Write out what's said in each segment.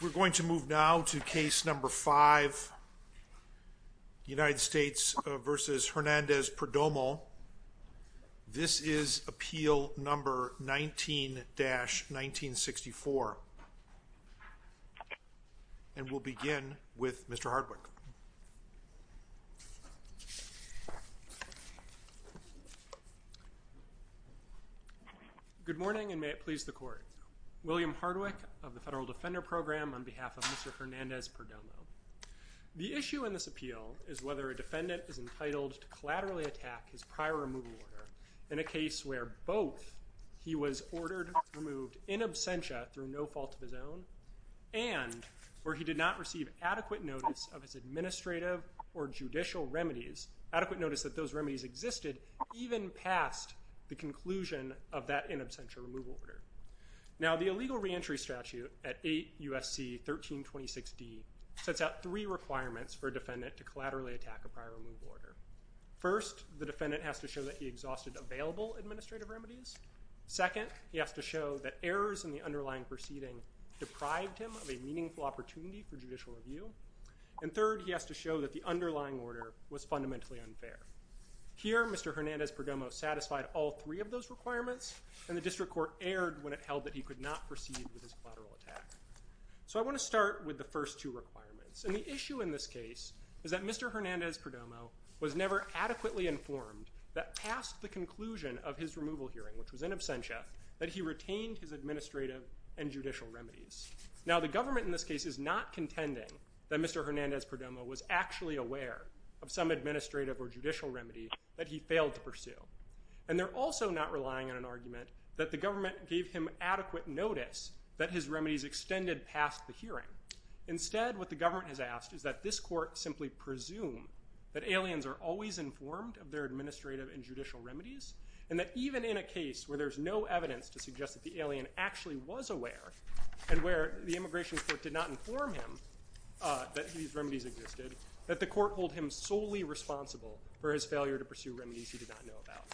We're going to move now to case number 5, United States v. Hernandez-Perdomo. This is appeal number 19-1964, and we'll begin with Mr. Hardwick. Good morning and may it please the court. William Hardwick of the Federal Defender Program on behalf of Mr. Hernandez-Perdomo. The issue in this appeal is whether a defendant is entitled to collaterally attack his prior removal order in a case where both he was ordered removed in absentia through no fault of his own and where he did not receive adequate notice of his administrative or judicial remedies, adequate notice that those remedies existed even past the conclusion of that in absentia removal order. Now the illegal reentry statute at 8 U.S.C. 1326D sets out three requirements for a defendant to collaterally attack a prior removal order. First, the defendant has to show that he exhausted available administrative remedies. Second, he has to show that errors in the underlying proceeding deprived him of a meaningful opportunity for judicial review. And third, he has to show that the underlying order was fundamentally unfair. Here, Mr. Hernandez-Perdomo satisfied all three of those requirements and the district court erred when it held that he could not proceed with his collateral attack. So I want to start with the first two requirements. And the issue in this case is that Mr. Hernandez-Perdomo was never adequately informed that past the conclusion of his removal hearing, which was in absentia, that he retained his administrative and judicial remedies. Now the government in this case is not contending that Mr. Hernandez-Perdomo was actually aware of some administrative or judicial remedy that he failed to pursue. And they're also not relying on an argument that the government gave him adequate notice that his remedies extended past the hearing. Instead, what the government has asked is that this court simply presume that aliens are always informed of their administrative and judicial remedies. And that even in a case where there's no evidence to suggest that the alien actually was aware and where the immigration court did not inform him that these remedies existed, that the court hold him solely responsible for his failure to pursue remedies he did not know about.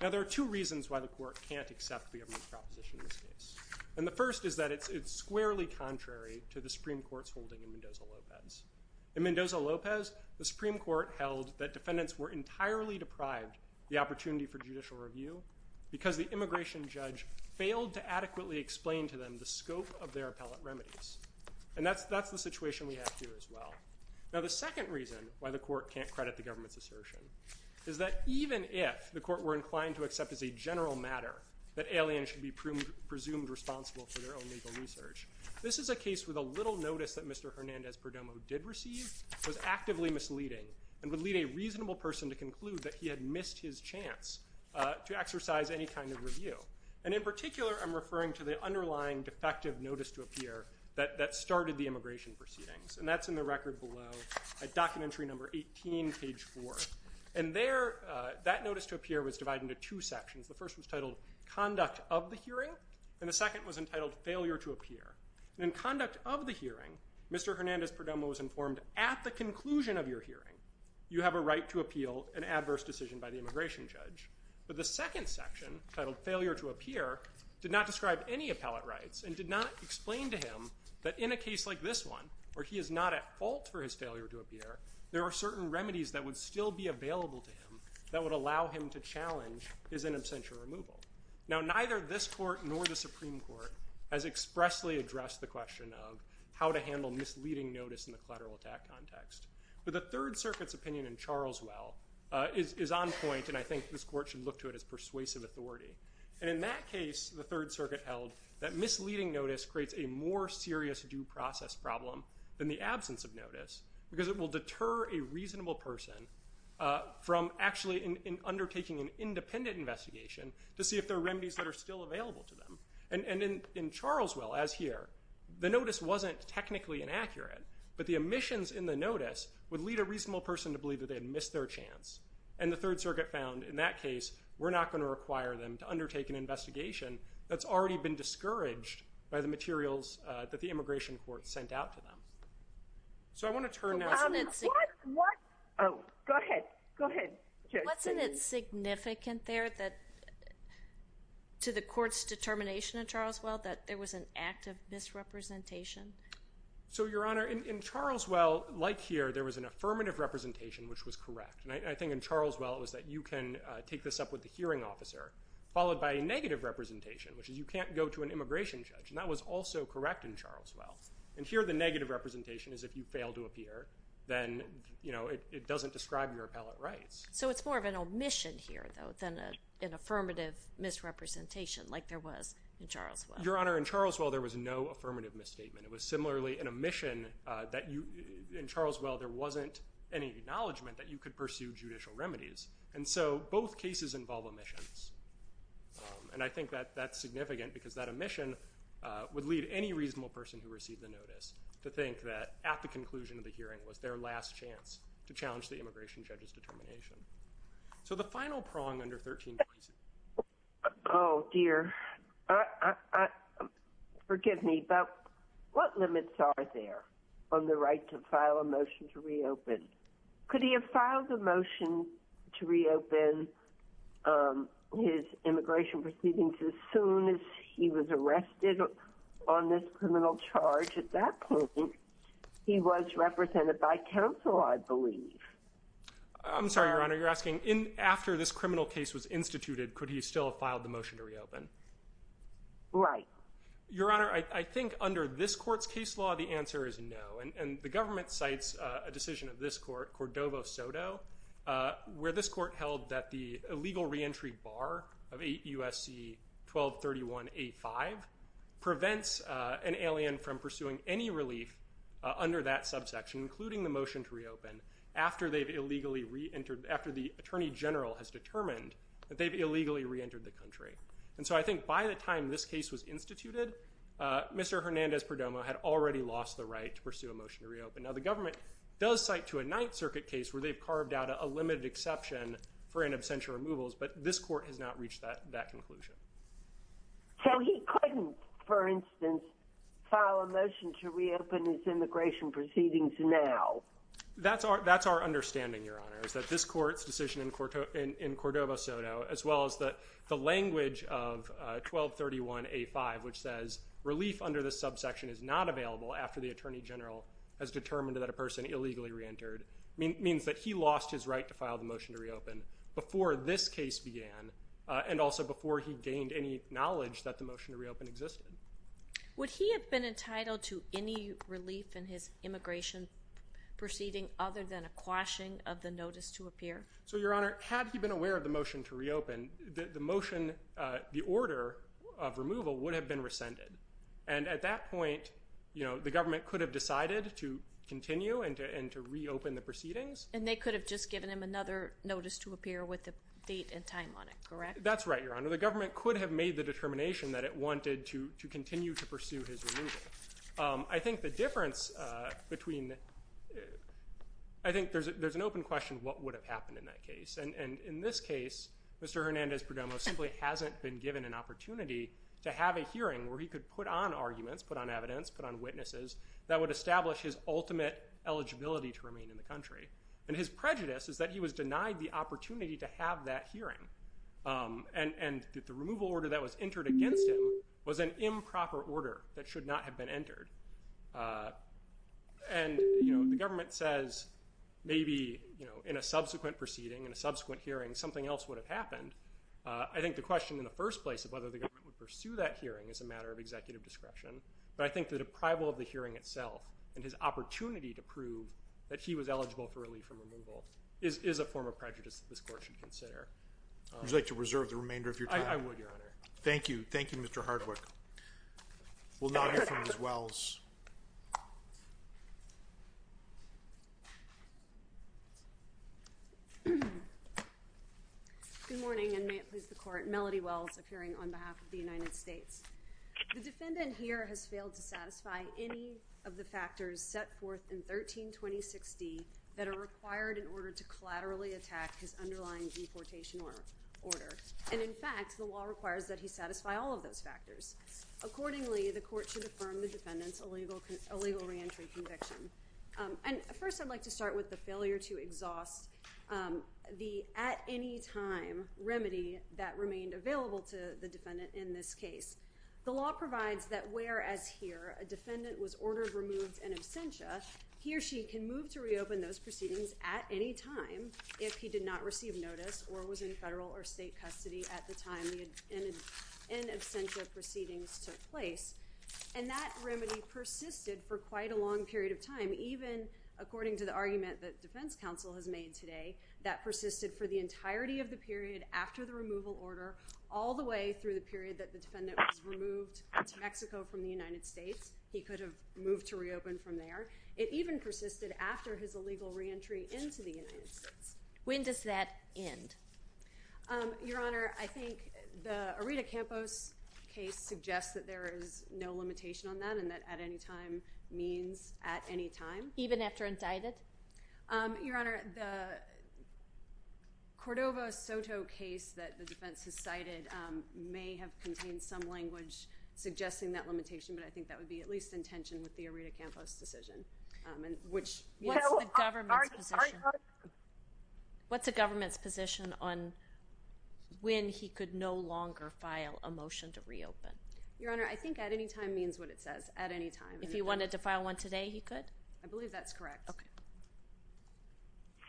Now there are two reasons why the court can't accept the government's proposition in this case. And the first is that it's squarely contrary to the Supreme Court's holding in Mendoza-Lopez. In Mendoza-Lopez, the Supreme Court held that defendants were entirely deprived the opportunity for judicial review because the immigration judge failed to adequately explain to them the scope of their appellate remedies. And that's the situation we have here as well. Now the second reason why the court can't credit the government's assertion is that even if the court were inclined to accept as a general matter that aliens should be presumed responsible for their own legal research, this is a case with a little notice that Mr. Hernandez-Perdomo did receive, was actively misleading, and would lead a reasonable person to conclude that he had missed his chance to exercise any kind of review. And in particular, I'm referring to the underlying defective notice to appear that started the immigration proceedings. And that's in the record below, at documentary number 18, page 4. And there, that notice to appear was divided into two sections. The first was titled Conduct of the Hearing. And the second was entitled Failure to Appear. In Conduct of the Hearing, Mr. Hernandez-Perdomo was informed at the conclusion of your hearing, you have a right to appeal an adverse decision by the immigration judge. But the second section, titled Failure to Appear, did not describe any appellate rights and did not explain to him that in a case like this one, where he is not at fault for his failure to appear, there are certain remedies that would still be available to him that would allow him to challenge his in absentia removal. Now, neither this court nor the Supreme Court has expressly addressed the question of how to handle misleading notice in the collateral attack context. But the Third Circuit's opinion in Charleswell is on point, and I think this court should look to it as persuasive authority. And in that case, the Third Circuit held that misleading notice creates a more serious due process problem than the absence of notice because it will deter a reasonable person from actually in undertaking an independent investigation to see if there are remedies that are still available to them. And in Charleswell, as here, the notice wasn't technically inaccurate, but the omissions in the notice would lead a reasonable person to believe that they had missed their chance. And the Third Circuit found in that case, we're not going to require them to undertake an investigation that's already been discouraged by the materials that the Immigration Court sent out to them. So I want to turn now to... Oh, go ahead. Go ahead. Okay. Wasn't it significant there that to the court's determination in Charleswell that there was an act of misrepresentation? So, Your Honor, in Charleswell, like here, there was an affirmative representation, which was correct. And I think in Charleswell, it was that you can take this up with the hearing officer, followed by a negative representation, which is you can't go to an immigration judge. And that was also correct in Charleswell. And here, the negative representation is if you fail to appear, then, you know, it doesn't describe your appellate rights. So it's more of an omission here, though, than an affirmative misrepresentation, like there was in Charleswell. Your Honor, in Charleswell, there was no affirmative misstatement. It was similarly an omission that you, in Charleswell, there wasn't any acknowledgement that you could pursue judicial remedies. And so, both cases involve omissions. And I think that that's significant, because that omission would lead any reasonable person who received the notice to think that at the conclusion of the hearing was their last chance to challenge the immigration judge's determination. So the final prong under 13. Oh, dear. Forgive me, but what limits are there on the right to file a motion to reopen? Could he have filed a motion to reopen his immigration proceedings as soon as he was arrested on this criminal charge at that point? He was represented by counsel, I believe. I'm sorry, Your Honor. You're asking, after this criminal case was instituted, could he still have filed the motion to reopen? Right. Your Honor, I think under this court's case law, the answer is no. And the government cites a decision of this court, Cordova-Soto, where this court held that the illegal reentry bar of 8 U.S.C. 1231A5 prevents an alien from pursuing any relief under that subsection, including the motion to reopen, after the attorney general has determined that they've illegally reentered the country. And so, I think by the time this case was instituted, Mr. Hernandez-Perdomo had already lost the right to pursue a motion to reopen. Now, the government does cite to a Ninth Circuit case where they've carved out a limited exception for an absentia removals, but this court has not reached that conclusion. So, he couldn't, for instance, file a motion to reopen his immigration proceedings now? That's our understanding, Your Honor, is that this court's decision in Cordova-Soto, as well as the language of 1231A5, which says relief under the subsection is not available after the attorney general has determined that a person illegally reentered, means that he lost his right to file the motion to reopen before this case began, and also before he gained any knowledge that the motion to reopen existed. Would he have been entitled to any relief in his immigration proceeding other than a quashing of the notice to appear? So, Your Honor, had he been aware of the motion to reopen, the motion, the order of removal would have been rescinded, and at that point, you know, the government could have decided to continue and to reopen the proceedings. And they could have just given him another notice to appear with the date and time on it, correct? That's right, Your Honor. The government could have made the determination that it wanted to continue to pursue his removal. I think the difference between, I think there's an open question, what would have happened in that case? And in this case, Mr. Hernandez-Perdomo simply hasn't been given an opportunity to have a hearing where he could put on arguments, put on evidence, put on witnesses that would establish his ultimate eligibility to remain in the country. And his prejudice is that he was denied the opportunity to have that hearing. And the removal order that was entered against him was an improper order that should not have been entered. And, you know, the government says maybe, you know, in a subsequent proceeding, in a subsequent hearing, something else would have happened. I think the question in the first place of whether the government would pursue that hearing is a matter of executive discretion. But I think the deprival of the hearing itself and his opportunity to prove that he was eligible for relief from removal is a form of prejudice that this court should consider. Would you like to reserve the remainder of your time? I would, Your Honor. Thank you. Thank you, Mr. Hardwick. We'll now hear from Ms. Wells. Good morning, and may it please the Court. Melody Wells, appearing on behalf of the United States. The defendant here has failed to satisfy any of the factors set forth in 13-2060 that are required in order to collaterally attack his underlying deportation order. And, in fact, the law requires that he satisfy all of those factors. Accordingly, the court should affirm the defendant's illegal reentry conviction. And first, I'd like to start with the failure to exhaust the at-any-time remedy that remained available to the defendant in this case. The law provides that whereas here a defendant was ordered removed in absentia, he or she can move to reopen those proceedings at any time if he did not receive notice or was in federal or state custody at the time the in absentia proceedings took place. And that remedy persisted for quite a long period of time. Even according to the argument that defense counsel has made today, that persisted for the entirety of the period after the removal order all the way through the period that the defendant was removed to Mexico from the United States. He could have moved to reopen from there. It even persisted after his illegal reentry into the United States. When does that end? Your Honor, I think the Aretha Campos case suggests that there is no limitation on that and that at-any-time means at any time. Even after indicted? Your Honor, the Cordova-Soto case that the defense has cited may have contained some language suggesting that limitation, but I think that would be at least in tension with the Aretha Campos decision, which, you know, it's the government's position. What's the government's position on when he could no longer file a motion to reopen? Your Honor, I think at-any-time means what it says, at any time. If he wanted to file one today, he could? I believe that's correct.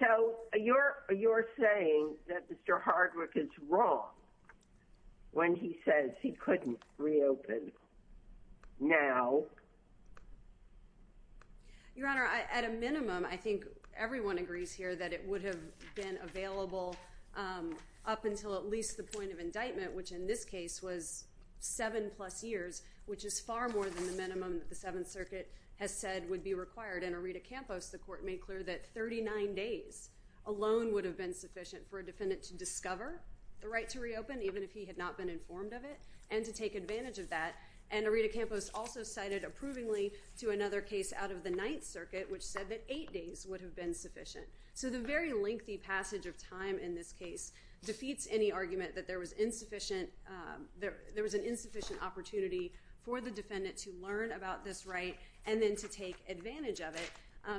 So you're saying that Mr. Hardwick is wrong when he says he couldn't reopen now? Your Honor, at a minimum, I think everyone agrees here that it would have been available up until at least the point of indictment, which in this case was seven-plus years, which is far more than the minimum that the Seventh Circuit has said would be required. In Aretha Campos, the court made clear that 39 days alone would have been sufficient for a defendant to discover the right to reopen, even if he had not been informed of it, and to take advantage of that. And Aretha Campos also cited approvingly to another case out of the Ninth Circuit, which said that eight days would have been sufficient. So the very lengthy passage of time in this case defeats any argument that there was insufficient, there was an insufficient opportunity for the defendant to learn about this right, and then to take advantage of it.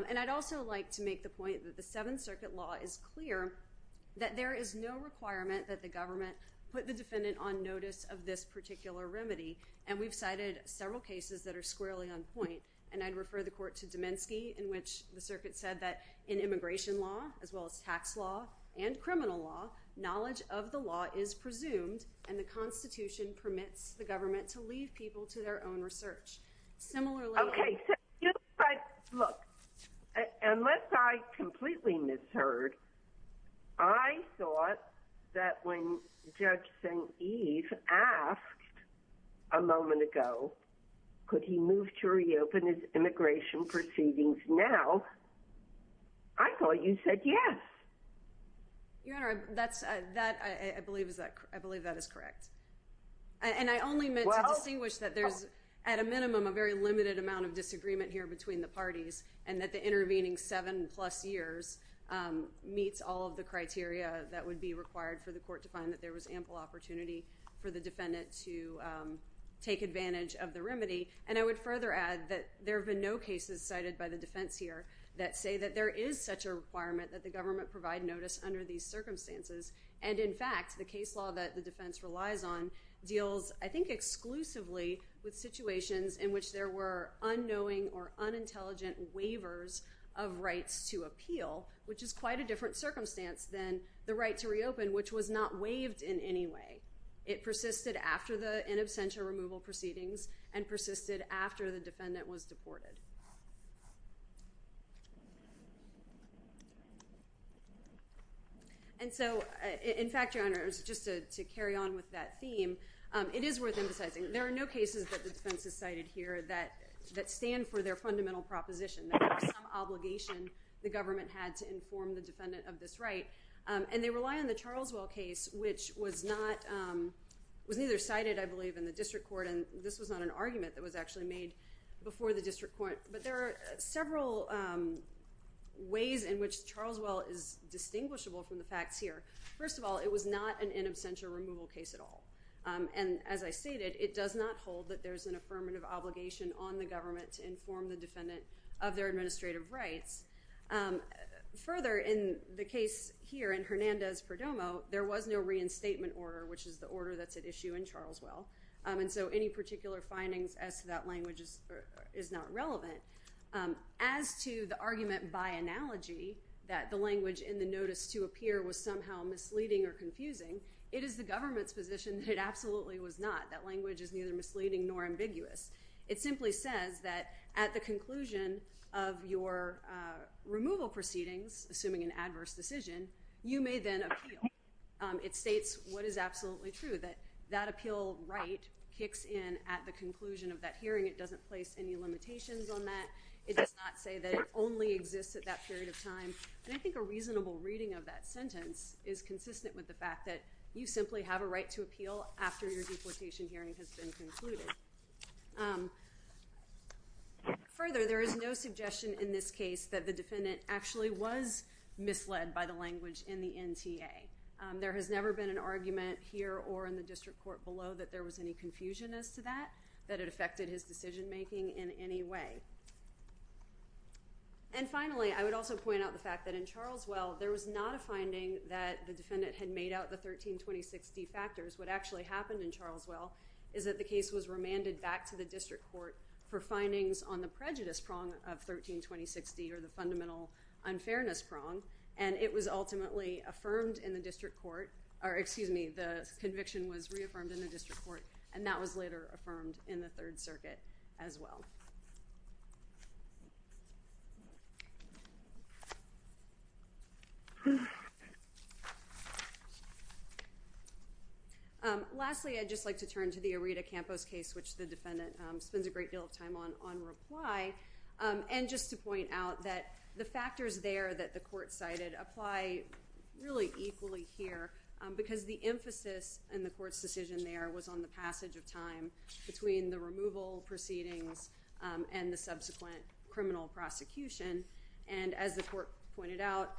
And I'd also like to make the point that the Seventh Circuit law is clear that there is no requirement that the government put the defendant on notice of this particular remedy. And we've cited several cases that are squarely on point, and I'd refer the court to Domensky, in which the circuit said that in immigration law, as well as tax law, and criminal law, knowledge of the law is presumed, and the Constitution permits the government to leave people to their own research. Similarly- Okay, so you said, look, unless I completely misheard, I thought that when Judge St. Eve asked a moment ago, could he move to reopen his immigration proceedings now, I thought you said yes. Your Honor, that's, that, I believe is that, I believe that is correct. And I only meant to distinguish that there's, at a minimum, a very limited amount of disagreement here between the parties, and that the intervening seven plus years meets all of the criteria that would be required for the court to find that there was ample opportunity for the defendant to take advantage of the remedy. And I would further add that there have been no cases cited by the defense here that say that there is such a requirement that the government provide notice under these circumstances. And in fact, the case law that the defense relies on deals, I think, exclusively with situations in which there were unknowing or unintelligent waivers of rights to appeal, which is quite a different circumstance than the right to reopen, which was not waived in any way. It persisted after the in absentia removal proceedings, and persisted after the defendant was deported. And so, in fact, Your Honor, just to carry on with that theme, it is worth emphasizing, there are no cases that the defense has cited here that stand for their fundamental proposition, that there was some obligation the government had to inform the defendant of this right. And they rely on the Charleswell case, which was not, was neither cited, I believe, in the district court, and this was not an argument that was actually made before the district court, but there are several ways in which Charleswell is distinguishable from the facts here. First of all, it was not an in absentia removal case at all. And as I stated, it does not hold that there's an affirmative obligation on the government to inform the defendant of their administrative rights. Further, in the case here in Hernandez-Perdomo, there was no reinstatement order, which is the order that's at issue in Charleswell. And so, any particular findings as to that language is not relevant. As to the argument by analogy that the language in the notice to appear was somehow misleading or confusing, it is the government's position that it absolutely was not. That language is neither misleading nor ambiguous. It simply says that at the conclusion of your removal proceedings, assuming an adverse decision, you may then appeal. It states what is absolutely true, that that appeal right kicks in at the conclusion of that hearing. It doesn't place any limitations on that. It does not say that it only exists at that period of time. And I think a reasonable reading of that sentence is consistent with the fact that you simply have a right to appeal after your deplication hearing has been concluded. Further, there is no suggestion in this case that the defendant actually was misled by the language in the NTA. There has never been an argument here or in the district court below that there was any confusion as to that, that it affected his decision making in any way. And finally, I would also point out the fact that in Charleswell, there was not a finding that the defendant had made out the 132060 factors. What actually happened in Charleswell is that the case was remanded back to the district court for findings on the prejudice prong of 132060 or the fundamental unfairness prong. And it was ultimately affirmed in the district court or excuse me, the conviction was reaffirmed in the district court and that was later affirmed in the Third Circuit as well. Lastly, I'd just like to turn to the Aretha Campos case which the defendant spends a great deal of time on, on reply. And just to point out that the factors there that the court cited apply really equally here because the emphasis in the court's decision there was on the passage of time between the removal proceedings and the subsequent criminal prosecution. And as the court pointed out,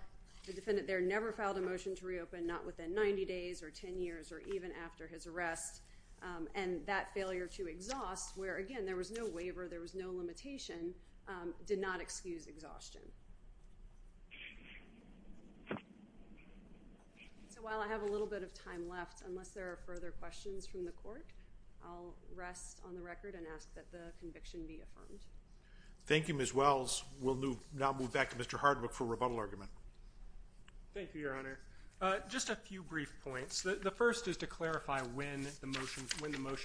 the defendant there never filed a motion to reopen, not within 90 days or 10 years or even after his arrest. And that failure to exhaust where again, there was no waiver, there was no limitation, did not excuse exhaustion. So while I have a little bit of time left, unless there are further questions from the court, I'll rest on the record and ask that the conviction be affirmed. Thank you, Ms. Wells. We'll now move back to Mr. Hardwick for rebuttal argument. Thank you, Your Honor. Just a few brief points. The first is to clarify when the motion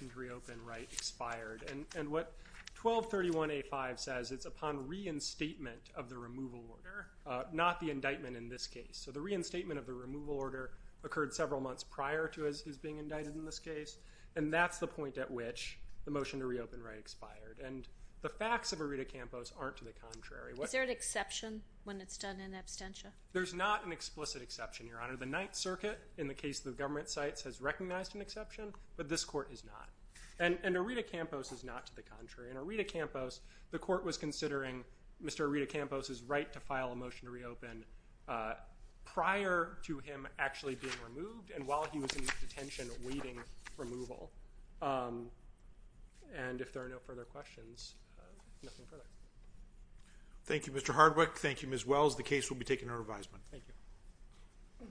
to reopen right expired. And what 1231A5 says, it's upon reinstatement of the removal order, not the indictment in this case. So the reinstatement of the removal order occurred several months prior to his being indicted in this case. And that's the point at which the motion to reopen right expired. And the facts of Aretha Campos aren't to the contrary. Is there an exception when it's done in absentia? There's not an explicit exception, Your Honor. The Ninth Circuit, in the case of the government sites, has recognized an exception, but this court has not. And Aretha Campos is not to the contrary. And Aretha Campos, the court was considering Mr. Aretha Campos' right to file a motion to reopen prior to him actually being removed and while he was in detention awaiting removal. And if there are no further questions, nothing further. Thank you, Mr. Hardwick. Thank you, Ms. Wells. The case will be taken to revisement. Thank you.